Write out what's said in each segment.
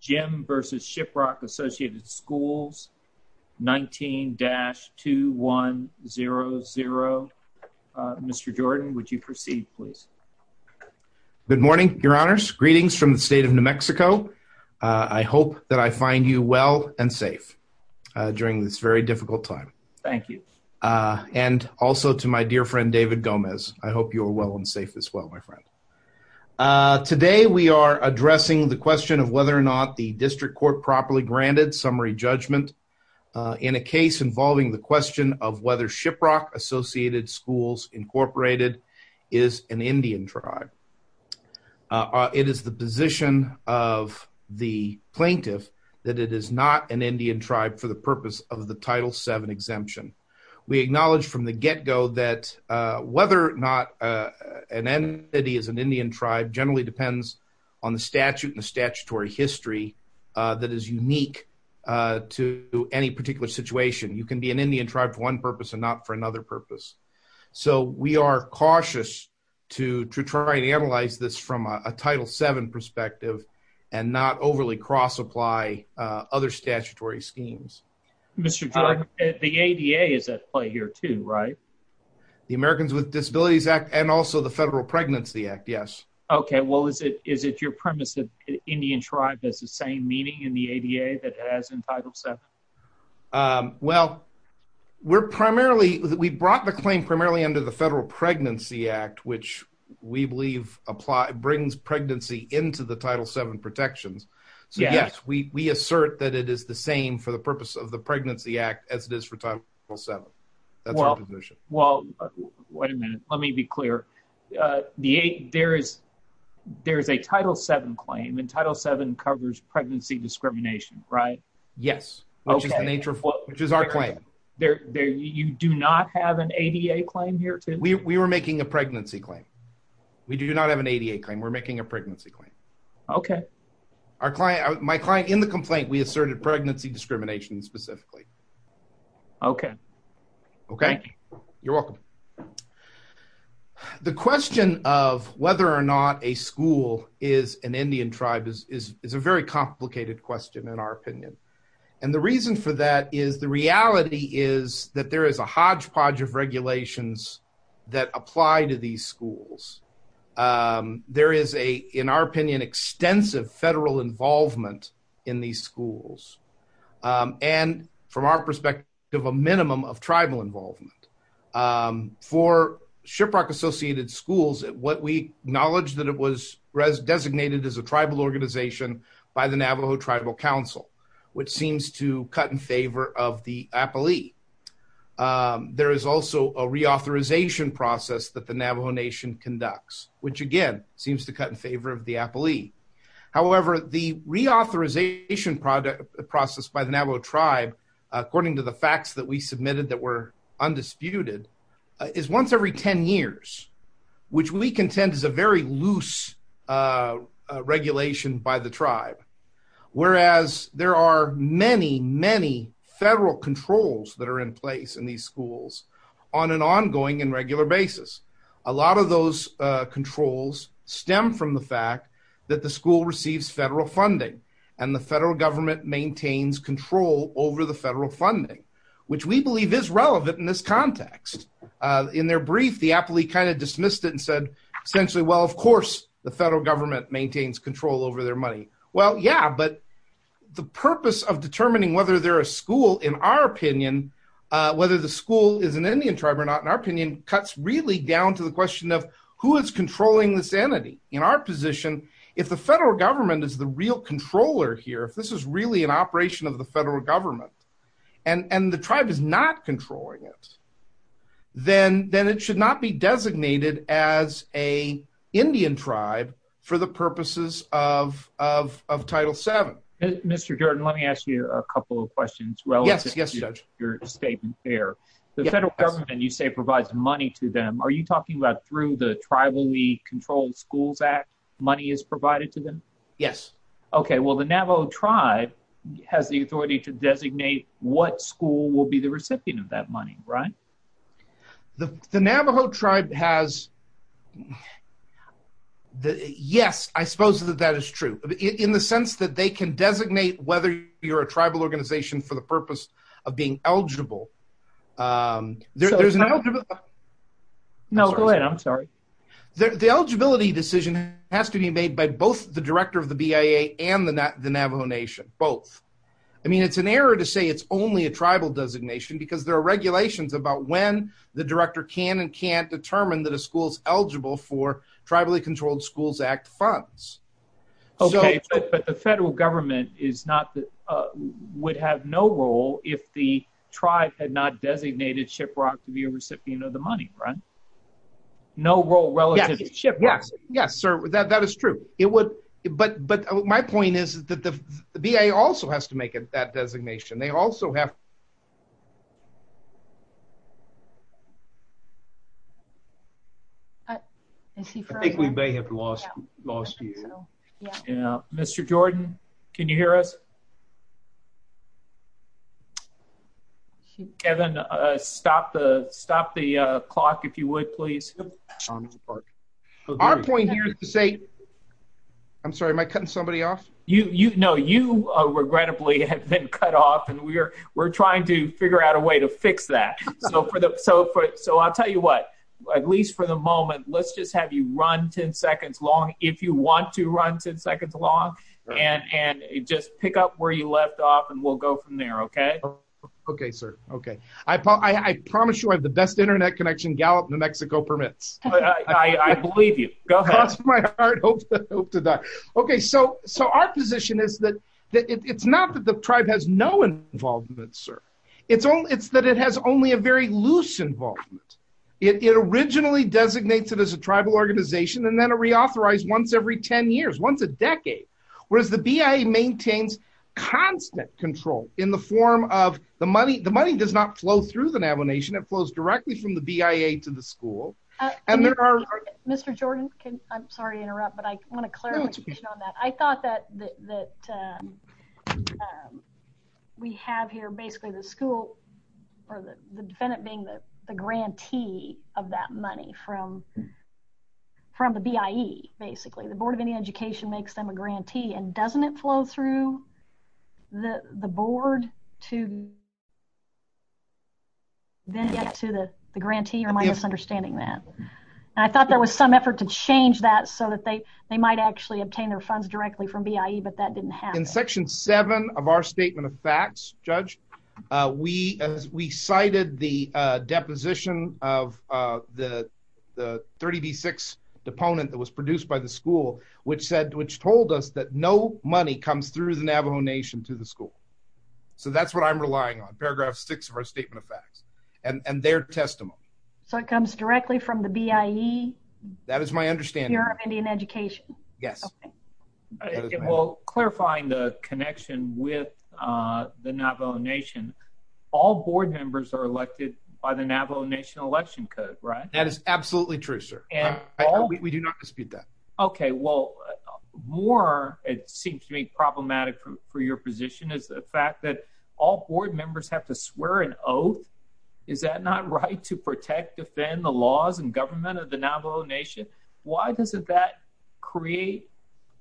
Jim v. Shiprock Associated Schools, 19-2100. Mr. Jordan, would you proceed please? Good morning, your honors. Greetings from the state of New Mexico. I hope that I find you well and safe during this very difficult time. Thank you. And also to my dear friend David Gomez. I hope you are well and safe as well, my friend. Today we are addressing the question of whether or not the district court properly granted summary judgment in a case involving the question of whether Shiprock Associated Schools Incorporated is an Indian tribe. It is the position of the plaintiff that it is not an Indian tribe for the purpose of the Title VII exemption. We acknowledge from the get-go that whether or not an entity is an Indian tribe generally depends on the statute and the statutory history that is unique to any particular situation. You can be an Indian tribe for one purpose and not for another purpose. So we are cautious to try and analyze this from a Title VII perspective and not overly cross-apply other statutory schemes. Mr. Jordan, the ADA is at play here too, right? The Americans with Disabilities Act and also the Federal Pregnancy Act. Is it your premise that Indian tribe has the same meaning in the ADA that it has in Title VII? Well, we brought the claim primarily under the Federal Pregnancy Act, which we believe brings pregnancy into the Title VII protections. So yes, we assert that it is the same for the purpose of the Pregnancy Act as it is for Title VII. That's our position. Well, wait a minute. Let me be clear. There is a Title VII claim and Title VII covers pregnancy discrimination, right? Yes, which is our claim. You do not have an ADA claim here too? We were making a pregnancy claim. We do not have an ADA claim. We're making a pregnancy claim. Okay. My client in the complaint, we asserted pregnancy discrimination specifically. Okay. Okay. Thank you. You're welcome. The question of whether or not a school is an Indian tribe is a very complicated question in our opinion. And the reason for that is the reality is that there is a hodgepodge of regulations that apply to these schools. There is a, in our opinion, extensive federal involvement in these schools. And from our perspective, a minimum of tribal involvement. For Shiprock Associated Schools, what we acknowledge that it was designated as a tribal organization by the Navajo Tribal Council, which seems to cut in favor of the Appalee. There is also a reauthorization process that the Navajo Nation conducts, which again, seems to cut in favor of the Appalee. However, the reauthorization process by the Navajo tribe, according to the facts that we submitted that were undisputed, is once every 10 years, which we contend is a very loose regulation by the tribe. Whereas there are many, many federal controls that are in place in these schools on an ongoing and regular basis. A lot of those controls stem from the fact that the school receives federal funding and the federal government maintains control over the federal funding, which we believe is relevant in this context. In their brief, the Appalee kind of dismissed it and said, essentially, well, of course, the federal government maintains control over their money. Well, yeah, but the purpose of determining whether they're a school, in our opinion, whether the school is an Indian tribe or not, in our position, is down to the question of who is controlling this entity. In our position, if the federal government is the real controller here, if this is really an operation of the federal government and the tribe is not controlling it, then it should not be designated as a Indian tribe for the purposes of Title VII. Mr. Jordan, let me ask you a couple of questions relative to your statement there. The federal government, you say, provides money to them. Are you talking about through the Tribally Controlled Schools Act, money is provided to them? Yes. Okay, well, the Navajo tribe has the authority to designate what school will be the recipient of that money, right? The Navajo tribe has the, yes, I suppose that that is true, in the sense that they can designate whether you're a tribal organization for the purpose of being eligible. No, go ahead. I'm sorry. The eligibility decision has to be made by both the director of the BIA and the Navajo Nation, both. I mean, it's an error to say it's only a tribal designation because there are regulations about when the director can and can't determine that a school is eligible for would have no role if the tribe had not designated Shiprock to be a recipient of the money, right? No role relative to Shiprock. Yes, yes, sir, that is true. It would, but my point is that the BIA also has to make that designation. They also have... I think we may have lost you. Yeah, Mr. Jordan, can you hear us? Kevin, stop the clock, if you would, please. Our point here is to say... I'm sorry, am I cutting somebody off? No, you regrettably have been cut off, and we're trying to figure out a way to fix that. So, I'll tell you what, at least for the moment, let's just have you run 10 seconds long. If you want to run 10 seconds long, and just pick up where you left off, and we'll go from there, okay? Okay, sir, okay. I promise you I have the best internet connection Gallup, New Mexico permits. I believe you. Go ahead. Cross my heart, hope to die. Okay, so our position is that it's not that the tribe has no involvement, sir. It's that it has only a very loose involvement. It originally designates it as a tribal organization, and then a reauthorized once every 10 years, once a decade, whereas the BIA maintains constant control in the form of the money. The money does not flow through the Navajo Nation. It flows directly from the BIA to the school, and there are... Mr. Jordan, I'm sorry to interrupt, but I want to clarify on that. I thought that we have here basically the school or the defendant being the grantee of that money from the BIE, basically. The Board of Indian Education makes them a grantee, and doesn't it flow through the board to then get to the grantee, or am I misunderstanding that? I thought there was some effort to change that so that they might actually obtain their funds directly from BIE, but that didn't happen. In section 7 of our statement of facts, Judge, we cited the deposition of the 30B6 deponent that was produced by the school, which told us that no money comes through the Navajo Nation to the school. So that's what I'm relying on, paragraph 6 of our statement of facts and their testimony. So it comes directly from the BIE? That is my understanding. Bureau of Indian Education? Yes. Well, clarifying the connection with the Navajo Nation, all board members are absolutely true, sir. We do not dispute that. Okay, well, more it seems to me problematic for your position is the fact that all board members have to swear an oath. Is that not right to protect, defend the laws and government of the Navajo Nation? Why doesn't that create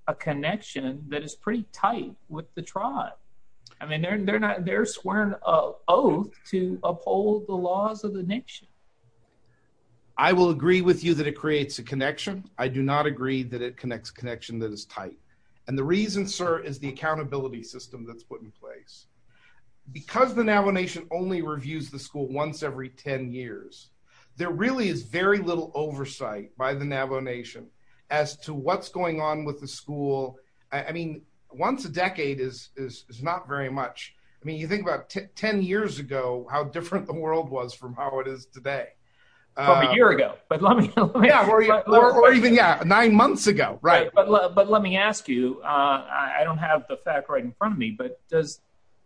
a connection that is pretty tight with the tribe? I mean, they're swearing an oath to uphold the laws of the nation. I will agree with you that it creates a connection. I do not agree that it connects connection that is tight. And the reason, sir, is the accountability system that's put in place. Because the Navajo Nation only reviews the school once every 10 years, there really is very little oversight by the Navajo Nation as to what's going on with the school. I mean, once a decade is not very much. I mean, you think about 10 years ago, how different the it is today. A year ago, but let me or even nine months ago, right. But let me ask you, I don't have the fact right in front of me. But does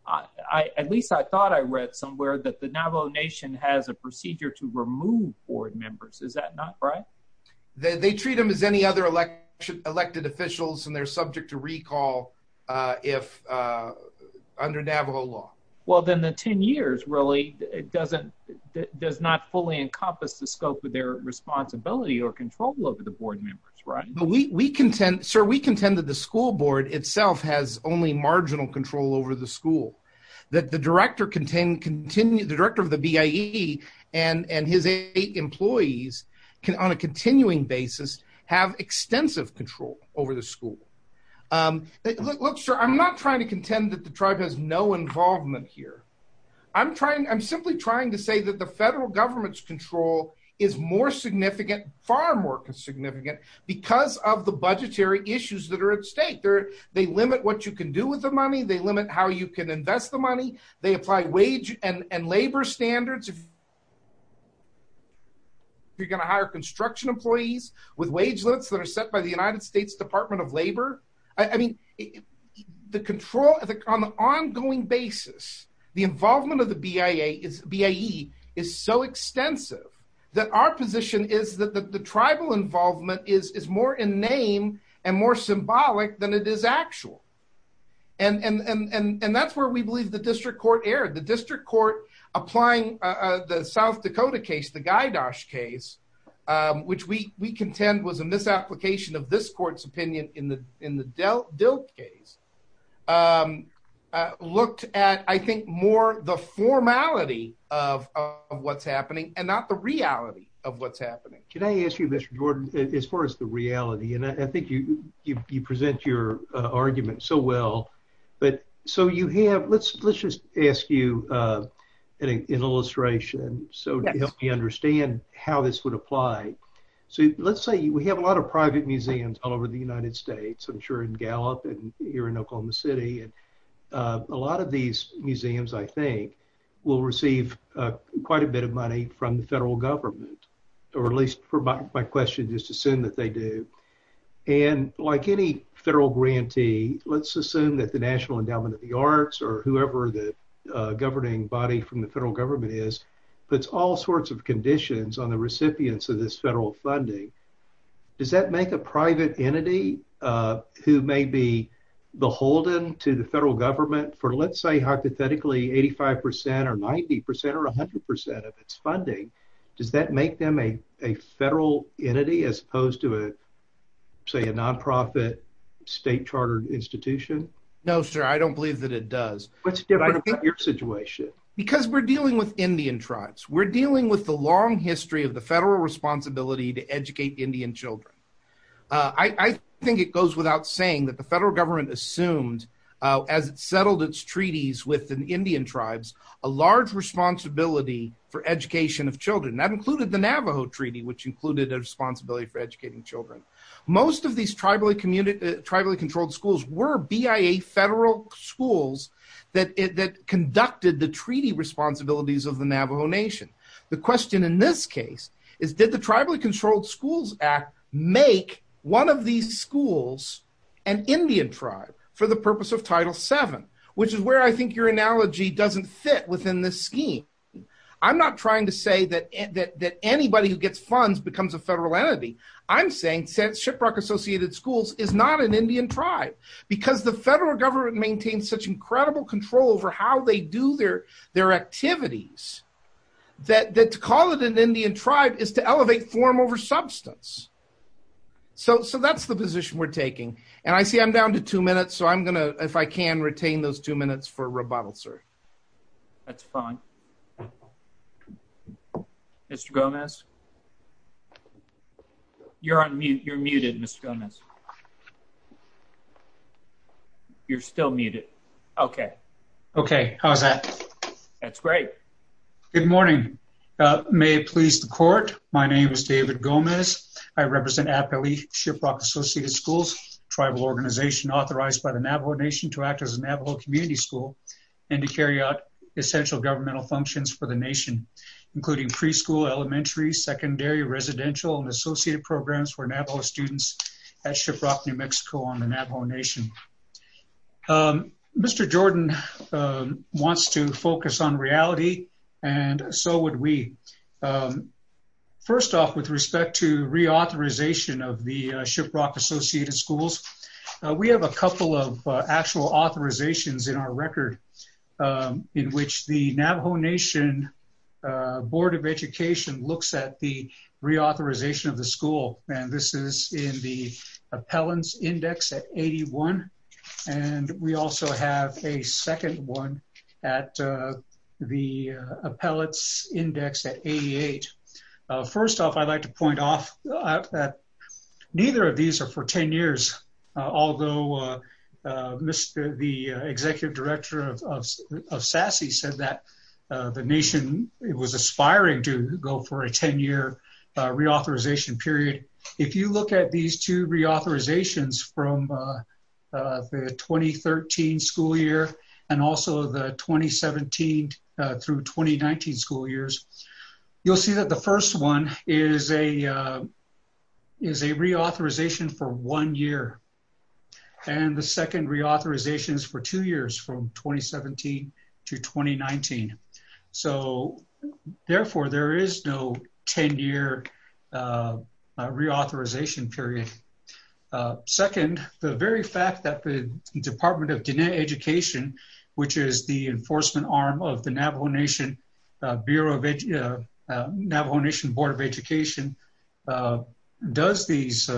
I at least I thought I read somewhere that the Navajo Nation has a procedure to remove board members. Is that not right? They treat them as any other election elected officials and they're subject to recall. If under Navajo law, well, then the 10 years really doesn't does not fully encompass the scope of their responsibility or control over the board members, right? We contend, sir, we contend that the school board itself has only marginal control over the school that the director contained continue the director of the BAE and and his eight employees can on a continuing basis have extensive control over the school. Look, sir, I'm not trying to contend that the tribe has no involvement here. I'm trying. I'm simply trying to say that the federal government's control is more significant, far more significant because of the budgetary issues that are at stake there. They limit what you can do with the money they limit how you can invest the money they apply wage and labor standards. If you're going to hire construction employees with wage limits that are set by the I mean, the control on the ongoing basis, the involvement of the BAE is so extensive that our position is that the tribal involvement is more in name and more symbolic than it is actual. And that's where we believe the district court erred. The district court applying the South Dakota case, the Guy Dosh case, which we contend was a misapplication of this court's opinion in the DILT case, looked at, I think, more the formality of what's happening and not the reality of what's happening. Can I ask you, Mr. Jordan, as far as the reality, and I think you you present your argument so well. But so you have let's let's just ask you an illustration. So help me understand how this would apply. So let's say we have a lot of private museums all over the United States, I'm sure in Gallup and here in Oklahoma City. And a lot of these museums, I think, will receive quite a bit of money from the federal government, or at least for my question, just assume that they do. And like any federal grantee, let's assume that the National Endowment of the Arts or whoever the governing body from the federal government is, puts all sorts of conditions on the who may be beholden to the federal government for, let's say, hypothetically 85% or 90% or 100% of its funding. Does that make them a federal entity, as opposed to a, say, a non-profit state chartered institution? No, sir, I don't believe that it does. What's different about your situation? Because we're dealing with Indian tribes. We're dealing with the long history of federal responsibility to educate Indian children. I think it goes without saying that the federal government assumed, as it settled its treaties with the Indian tribes, a large responsibility for education of children. That included the Navajo Treaty, which included a responsibility for educating children. Most of these tribally controlled schools were BIA federal schools that conducted the treaty responsibilities of the Navajo Nation. The question in this case is, did the Tribally Controlled Schools Act make one of these schools an Indian tribe for the purpose of Title VII, which is where I think your analogy doesn't fit within this scheme. I'm not trying to say that anybody who gets funds becomes a federal entity. I'm saying that Shiprock Associated Schools is not an Indian tribe, because the federal government maintains such incredible control over how they do their activities, that to call it an Indian tribe is to elevate form over substance. So that's the position we're taking. And I see I'm down to two minutes, so I'm going to, if I can, retain those two minutes for rebuttal, sir. That's fine. Mr. Gomez? You're on mute. You're muted, Mr. Gomez. You're still muted. Okay. Okay. How's that? That's great. Good morning. May it please the court. My name is David Gomez. I represent Appali Shiprock Associated Schools, a tribal organization authorized by the Navajo Nation to act as a Navajo community school and to carry out essential governmental functions for the nation, including preschool, elementary, secondary, residential, and associated programs for Navajo students at Shiprock New Mexico on the Navajo Nation. Mr. Jordan wants to focus on reality, and so would we. First off, with respect to reauthorization of the Shiprock Associated Schools, we have a couple of actual authorizations in our record in which the Navajo Nation Board of Education looks at the reauthorization of the school, and this is in the Appellants Index at 81, and we also have a second one at the Appellants Index at 88. First off, I'd like to point off that neither of these are for 10 years, although the the nation was aspiring to go for a 10-year reauthorization period. If you look at these two reauthorizations from the 2013 school year and also the 2017 through 2019 school years, you'll see that the first one is a reauthorization for one year, and the second reauthorization is for two years from 2017 to 2019, so therefore there is no 10-year reauthorization period. Second, the very fact that the Department of Diné Education, which is the enforcement arm of the Navajo Nation Board of Education, does these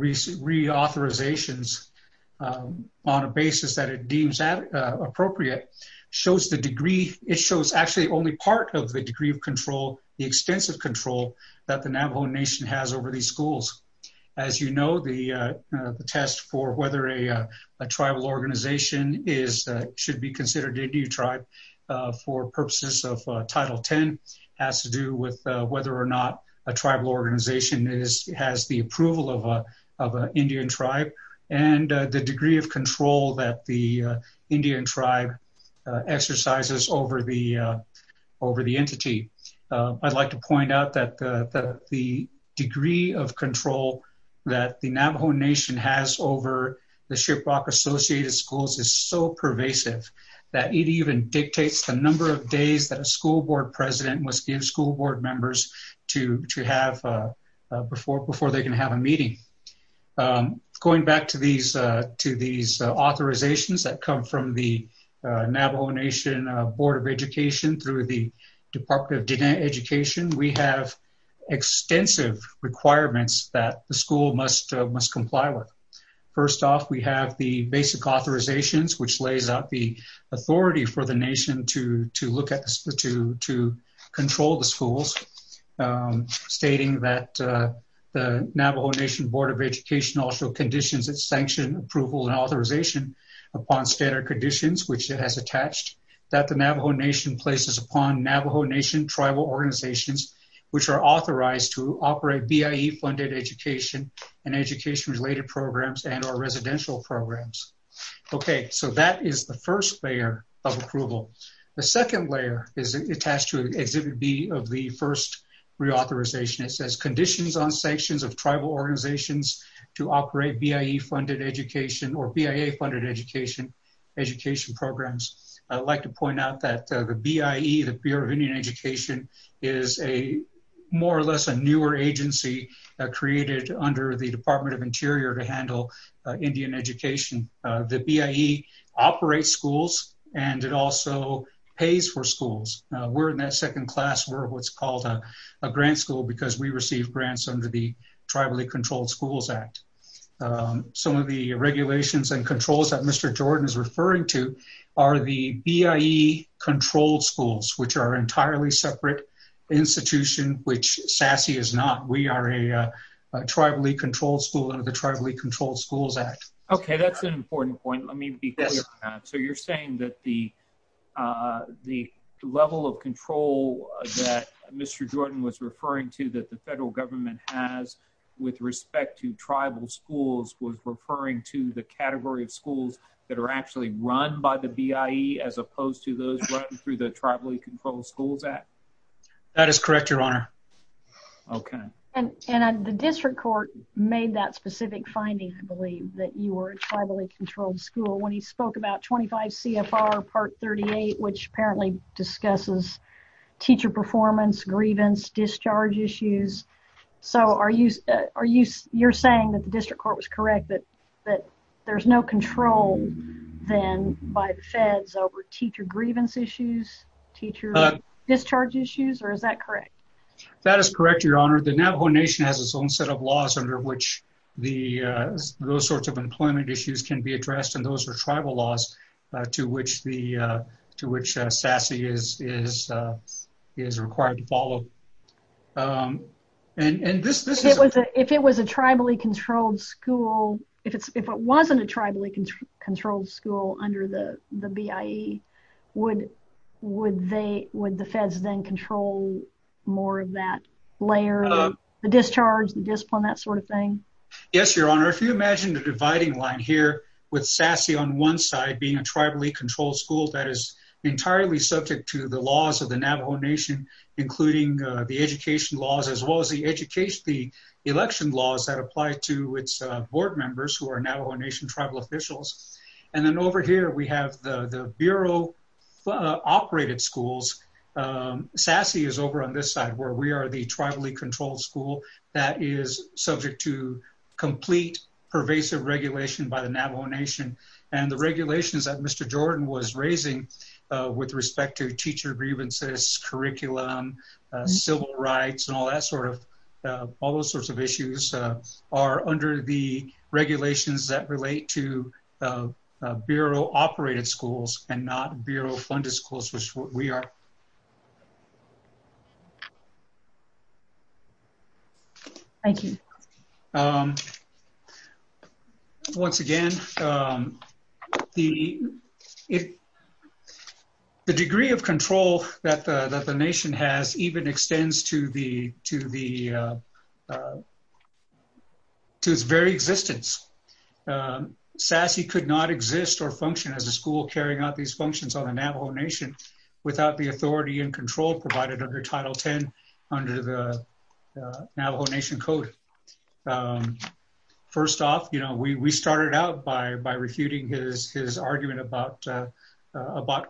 reauthorizations on a basis that it deems appropriate shows the degree, it shows actually only part of the degree of control, the extensive control that the Navajo Nation has over these schools. As you know, the test for whether a tribal organization should be considered Indian tribe for purposes of Title X has to do with whether or not a tribal organization has the approval of an Indian tribe and the degree of control that the Indian tribe exercises over the entity. I'd like to point out that the degree of control that the Navajo Nation has over the Shiprock Associated Schools is so pervasive that it even dictates the number of days that a school board president must give school board members to have before they can have a meeting. Going back to these authorizations that come from the Navajo Nation Board of Education through the Department of Diné Education, we have extensive requirements that the school must comply with. First off, we have the basic authorizations, which lays out the authority for the Nation to control the schools, stating that the Navajo Nation Board of Education also conditions its sanction approval and authorization upon standard conditions, which it has attached, that the Navajo Nation places upon Navajo Nation tribal organizations, which are authorized to programs and or residential programs. Okay, so that is the first layer of approval. The second layer is attached to Exhibit B of the first reauthorization. It says conditions on sanctions of tribal organizations to operate BIE-funded education or BIA-funded education programs. I'd like to point out that the BIE, the Bureau of Indian Education, is a more or less a newer agency created under the Department of Interior to handle Indian education. The BIE operates schools, and it also pays for schools. We're in that second class. We're what's called a grant school because we receive grants under the Tribally Controlled Schools Act. Some of the regulations and controls that Mr. Jordan is referring to are the BIE-controlled schools, which are entirely separate institutions, which SASE is not. We are a tribally controlled school under the Tribally Controlled Schools Act. Okay, that's an important point. Let me be clear on that. So, you're saying that the level of control that Mr. Jordan was referring to that the federal government has with respect to tribal schools was referring to the category of schools that are actually run by the BIE as opposed to those running through the Tribally Controlled Schools Act? That is correct, Your Honor. Okay. And the district court made that specific finding, I believe, that you were a tribally controlled school when he spoke about 25 CFR Part 38, which apparently discusses teacher performance, grievance, discharge issues. So, you're saying that the district court was correct that there's no control then by the feds over teacher grievance issues, teacher discharge issues, or is that correct? That is correct, Your Honor. The Navajo Nation has its own set of laws under which those sorts of employment issues can be addressed, and those are tribal laws to which SASE is required to follow. If it was a tribally controlled school, if it wasn't a tribally controlled school under the BIE, would the feds then control more of that layer of the discharge, the discipline, that sort of thing? Yes, Your Honor. If you imagine the dividing line here with SASE on one side being a tribally controlled school that is entirely subject to the laws of the Navajo Nation, including the the election laws that apply to its board members who are Navajo Nation tribal officials, and then over here we have the bureau-operated schools. SASE is over on this side where we are the tribally controlled school that is subject to complete pervasive regulation by the Navajo Nation and the regulations that Mr. Jordan was raising with respect to teacher grievances, curriculum, civil rights, and all those sorts of issues are under the regulations that relate to bureau-operated schools and not bureau-funded schools, which is what we are. Thank you. Once again, the degree of control that the Nation has even extends to its very existence. SASE could not exist or function as a school carrying out these functions on the Navajo Nation without the authority and control provided under Title 10 under the Navajo Nation Code. First off, you know, we started out by refuting his argument about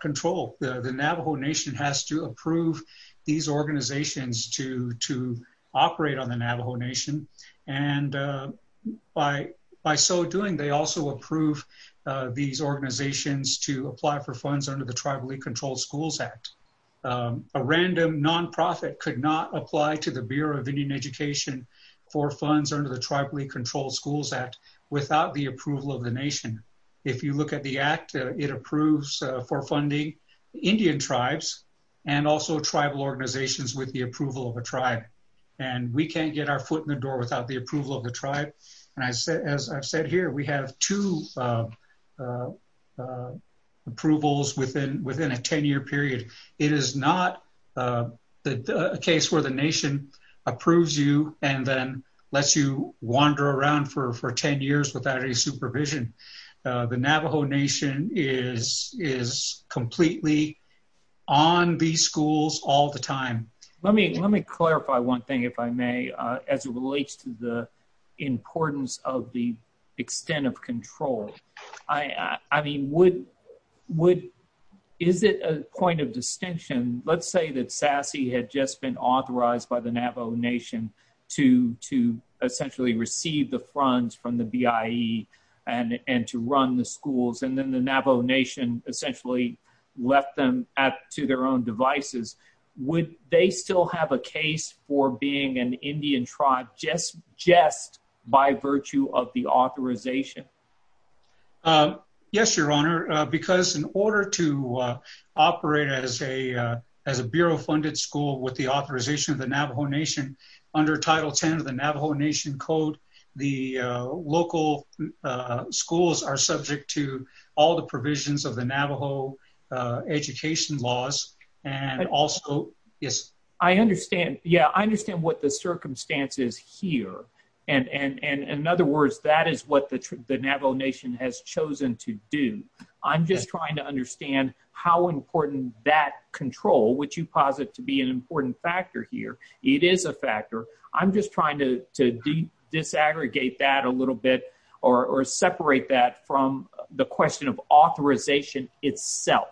control. The Navajo Nation has to approve these organizations to operate on the Navajo Nation and by so doing, they also approve these organizations to apply for funds under the Tribally Controlled Schools Act. A random non-profit could not apply to the Bureau of Indian Education for funds under the Tribally Controlled Schools Act without the approval of the Nation. If you look at the Act, it approves for funding Indian tribes and also tribal organizations with the approval of a tribe and we can't get our foot in the door without the approval of the tribe. As I've said here, we have two approvals within a 10-year period. It is not a case where the Nation approves you and then lets you wander around for 10 years without any supervision. The Navajo Nation is completely on these schools all the time. Let me clarify one thing, if I may, as it relates to the importance of the extent of control, I mean, is it a point of distinction, let's say that SASE had just been authorized by the Navajo Nation to essentially receive the funds from the BIE and to run the schools and then the Navajo Nation essentially left them to their own devices, would they still have a case for being an Indian tribe just by virtue of the authorization? Yes, Your Honor, because in order to operate as a Bureau-funded school with the authorization of the Navajo Nation under Title X of the Navajo Nation Code, the local schools are subject to all the provisions of the Navajo education laws and also, yes. I understand, yeah, I understand what the circumstance is here and in other words, that is what the Navajo Nation has chosen to do. I'm just trying to understand how important that control, which you posit to be an important factor here, it is a factor. I'm just trying to disaggregate that a little bit or separate that from the question of authorization itself.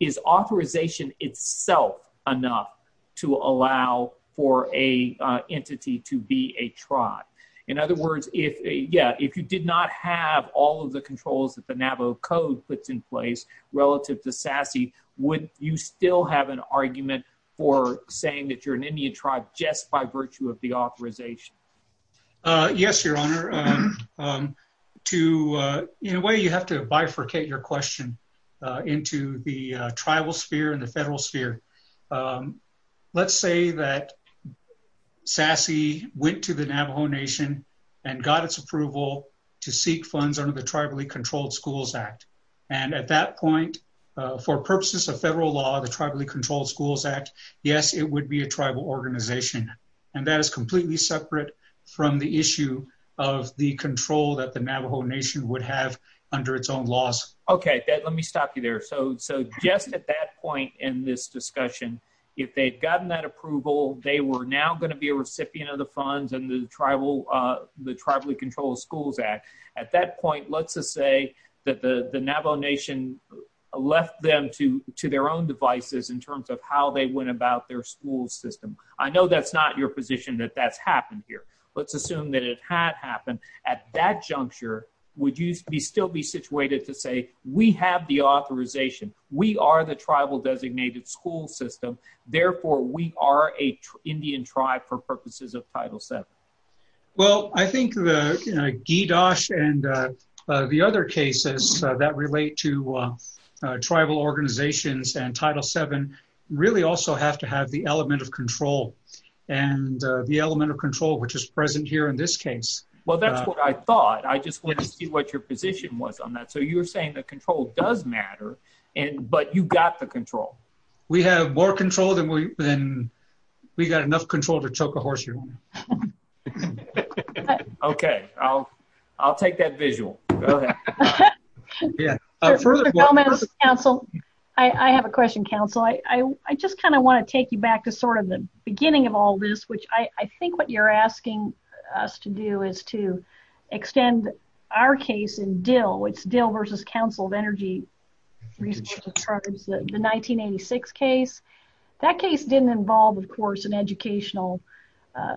Is authorization itself enough to allow for a entity to be a tribe? In other words, if, yeah, if you did not have all of the controls that the Navajo Code puts in place relative to SASE, would you still have an argument for saying that you're an Indian tribe just by virtue of the authorization? Yes, Your Honor. To, in a way, you have to bifurcate your question into the tribal sphere and the federal sphere. Let's say that SASE went to the Navajo Nation and got its approval to seek funds under the Tribally Controlled Schools Act and at that point, for purposes of federal law, the Tribally Controlled Schools Act, yes, it would be a tribal organization and that is completely separate from the issue of the control that the Navajo Nation would have under its own laws. Okay, let me stop you there. So just at that point in this discussion, if they'd gotten that approval, they were now going to be a recipient of the funds and the Tribally Controlled Schools Act. At that point, let's just say that the Navajo Nation left them to their own devices in terms of how they went about their school system. I know that's not your position that that's happened here. Let's assume that it had happened at that juncture. Would you still be situated to say, we have the authorization, we are the tribal designated school system, therefore we are an Indian tribe for purposes of Title VII? Well, I think the GDOSH and the other cases that relate to tribal organizations and Title VII really also have to have the element of control and the element of control which is present here in this case. Well, that's what I thought. I just wanted to see what your position was on that. So you're saying the control does matter, but you got the control. We have more control than we have. Okay, I'll take that visual. Go ahead. Further comments, Council? I have a question, Council. I just kind of want to take you back to sort of the beginning of all this, which I think what you're asking us to do is to extend our case in Dill. It's Dill versus Council of Energy Resources Tribes, the 1986 case. That case didn't involve, of course, an educational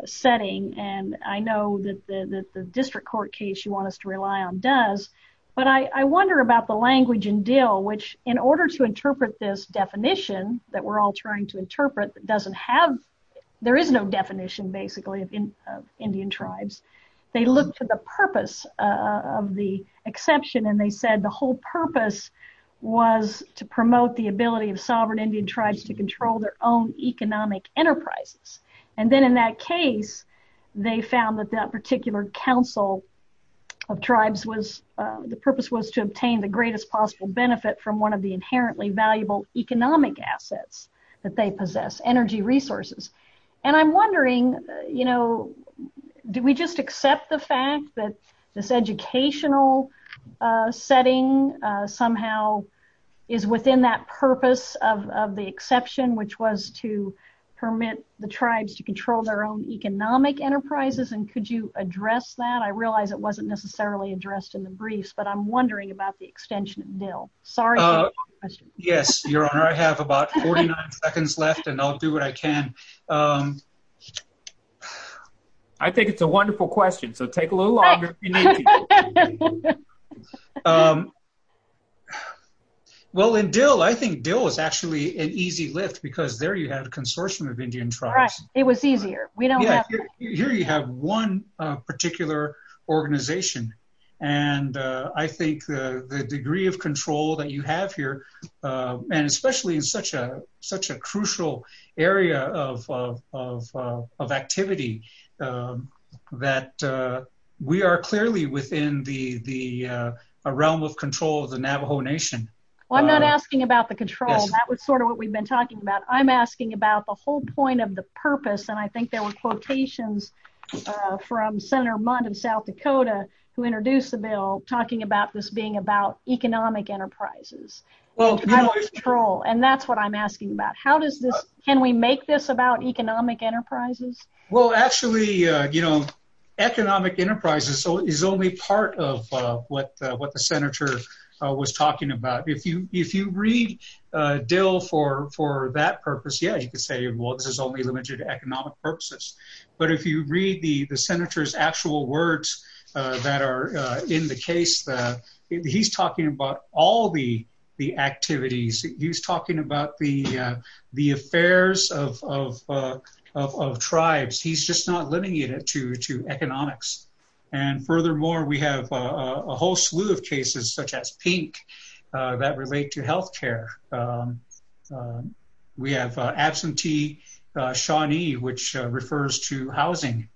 setting, and I know that the district court case you want us to rely on does, but I wonder about the language in Dill, which in order to interpret this definition that we're all trying to interpret that doesn't have, there is no definition, basically, of Indian tribes. They looked for the purpose of the exception, and they said the whole purpose was to promote the ability of sovereign Indian tribes to control their own economic enterprises, and then in that case, they found that that particular council of tribes was, the purpose was to obtain the greatest possible benefit from one of the inherently valuable economic assets that they possess, energy resources, and I'm wondering, you know, do we just accept the fact that this educational setting somehow is within that purpose of the exception, which was to permit the tribes to control their own economic enterprises, and could you address that? I realize it wasn't necessarily addressed in the briefs, but I'm wondering about the extension of Dill. Sorry. Yes, your honor, I have about 49 seconds left, and I'll do what I can. I think it's a wonderful question, so take a little longer if you need to. Well, in Dill, I think Dill is actually an easy lift, because there you have a consortium of Indian tribes. Right, it was easier. We don't have to. Here you have one particular organization, and I think the degree of control that you have here, and especially in such a such a crucial area of activity, that we are clearly within the realm of control of the Navajo Nation. Well, I'm not asking about the control. That was sort of what we've been talking about. I'm asking about the whole point of the purpose, and I think there were quotations from Senator Mundt in South Dakota, who introduced the bill, talking about this being about economic enterprises. Well, and that's what I'm asking about. How does this, can we make this about economic enterprises? Well, actually, you know, economic enterprises is only part of what the senator was talking about. If you read Dill for that purpose, yeah, you could say, well, this is only limited to economic purposes, but if you read the senator's actual words that are in the case, he's talking about all the activities. He's talking about the affairs of tribes. He's just not limiting it to economics, and furthermore, we have a whole slew of cases, such as Pink, that relate to health care. We have absentee Shawnee, which refers to housing.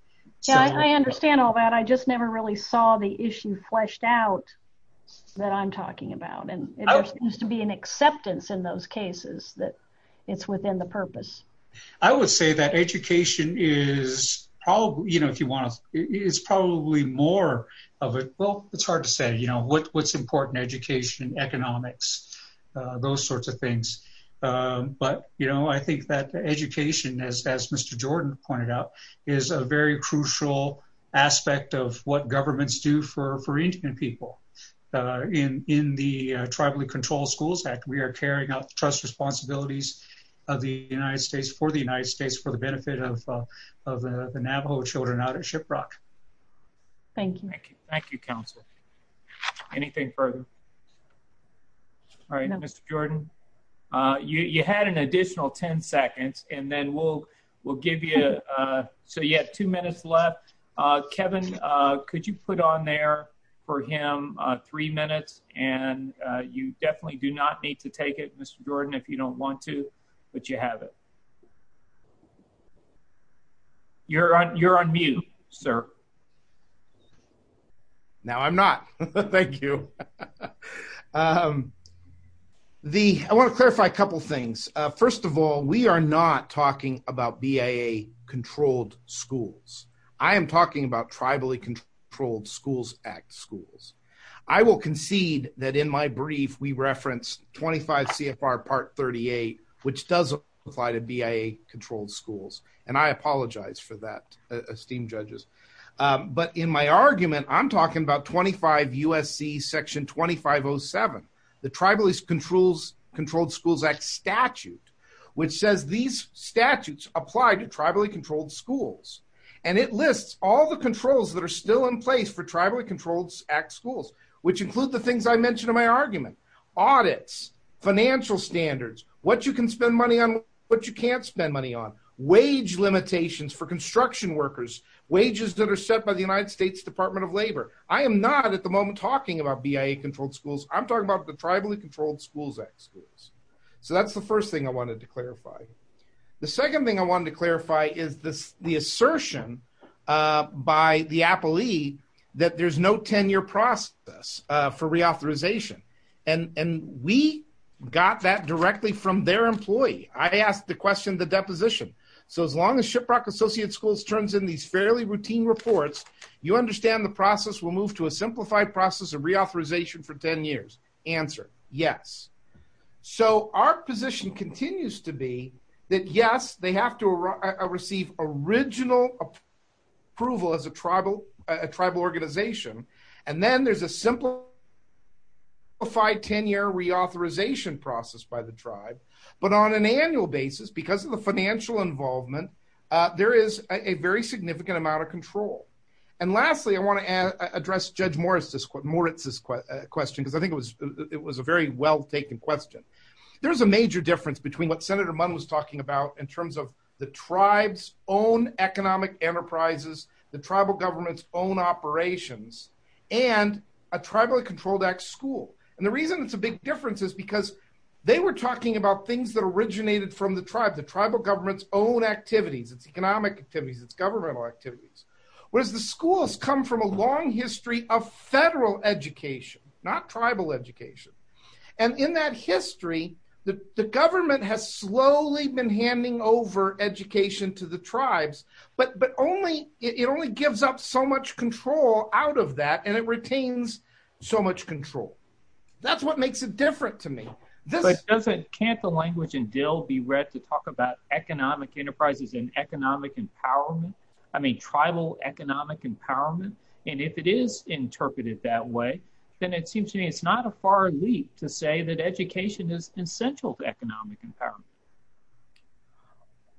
Yeah, I understand all that. I just never really saw the issue fleshed out that I'm talking about, and there seems to be an acceptance in those cases that it's within the purpose. I would say that education is probably, you know, if you want to, it's probably more of a, well, it's hard to say, you know, what's important, education, economics, those sorts of things, but, you know, I think that education, as Mr. Jordan pointed out, is a very crucial aspect of what governments do for Indian people. In the Tribally Controlled Schools Act, we are carrying out the trust responsibilities of the United States, for the United States, for the benefit of the Navajo children out at Shiprock. Thank you. Thank you, Council. Anything further? All right, Mr. Jordan, you had an additional 10 seconds, and then we'll give you, so you have two minutes left. Kevin, could you put on there for him three minutes, and you definitely do not need to take it, Mr. Jordan, if you don't want to, but you have it. You're on, you're on mute, sir. Now I'm not. Thank you. The, I want to clarify a couple things. First of all, we are not talking about BIA-controlled schools. I am talking about Tribally Controlled Schools Act schools. I will concede that in my brief, we referenced 25 CFR Part 38, which does apply to BIA-controlled schools, and I apologize for that, esteemed judges. But in my argument, I'm talking about 25 U.S.C. Section 2507, the Tribally Controlled Schools Act statute, which says these statutes apply to Tribally Controlled Schools, and it lists all the controls that are still in place for Tribally Controlled Act schools, which include the things I mentioned in my argument, audits, financial standards, what you can spend money on, what you can't spend money on, wage limitations for construction workers, wages that are set by the United States Department of Labor. I am not at the moment talking about BIA-controlled schools. I'm talking about the Tribally Controlled Schools Act schools. So that's the first thing I wanted to clarify. The second thing I wanted to clarify is this, the assertion by the appellee that there's no 10-year process for reauthorization, and we got that directly from their employee. I asked the question, the deposition. So as long as Shiprock Associate Schools turns in these fairly routine reports, you understand the process will move to a simplified process of reauthorization for 10 years. Answer, yes. So our position continues to be that, yes, they have to receive original approval as a tribal organization, and then there's a simplified 10-year reauthorization process by the tribe. But on an annual basis, because of the financial involvement, there is a very significant amount of control. And lastly, I want to address Judge Moritz's question, because I think it was a very well-taken question. There's a major difference between what Senator Munn was talking about in terms of the tribe's own economic enterprises, the tribal government's own operations, and a Tribally Controlled Act school. And the reason it's a big difference is because they were talking about things that originated from the tribe, the tribal government's own activities, its economic activities, its governmental activities. Whereas the schools come from a long history of federal education, not tribal education. And in that history, the government has slowly been handing over education to the tribes, but it only gives up so much control out of that, and it retains so much control. That's what makes it different to me. But can't the language in Dill be read to talk about economic enterprises and economic empowerment? I mean, tribal economic empowerment? And if it is interpreted that way, then it seems to me it's not a far leap to say that education is essential to economic empowerment.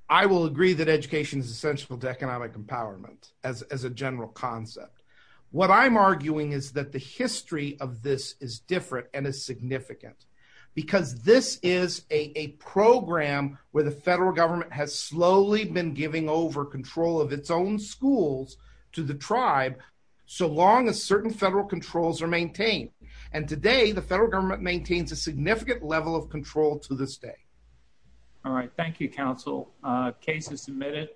I will agree that education is essential to economic empowerment as a general concept. What I'm arguing is that the history of this is different and is significant, because this is a program where the federal government has slowly been giving over control of its own schools to the tribe, so long as certain federal controls are maintained. And today, the federal government maintains a significant level of control to this day. All right. Thank you, counsel. Case is submitted.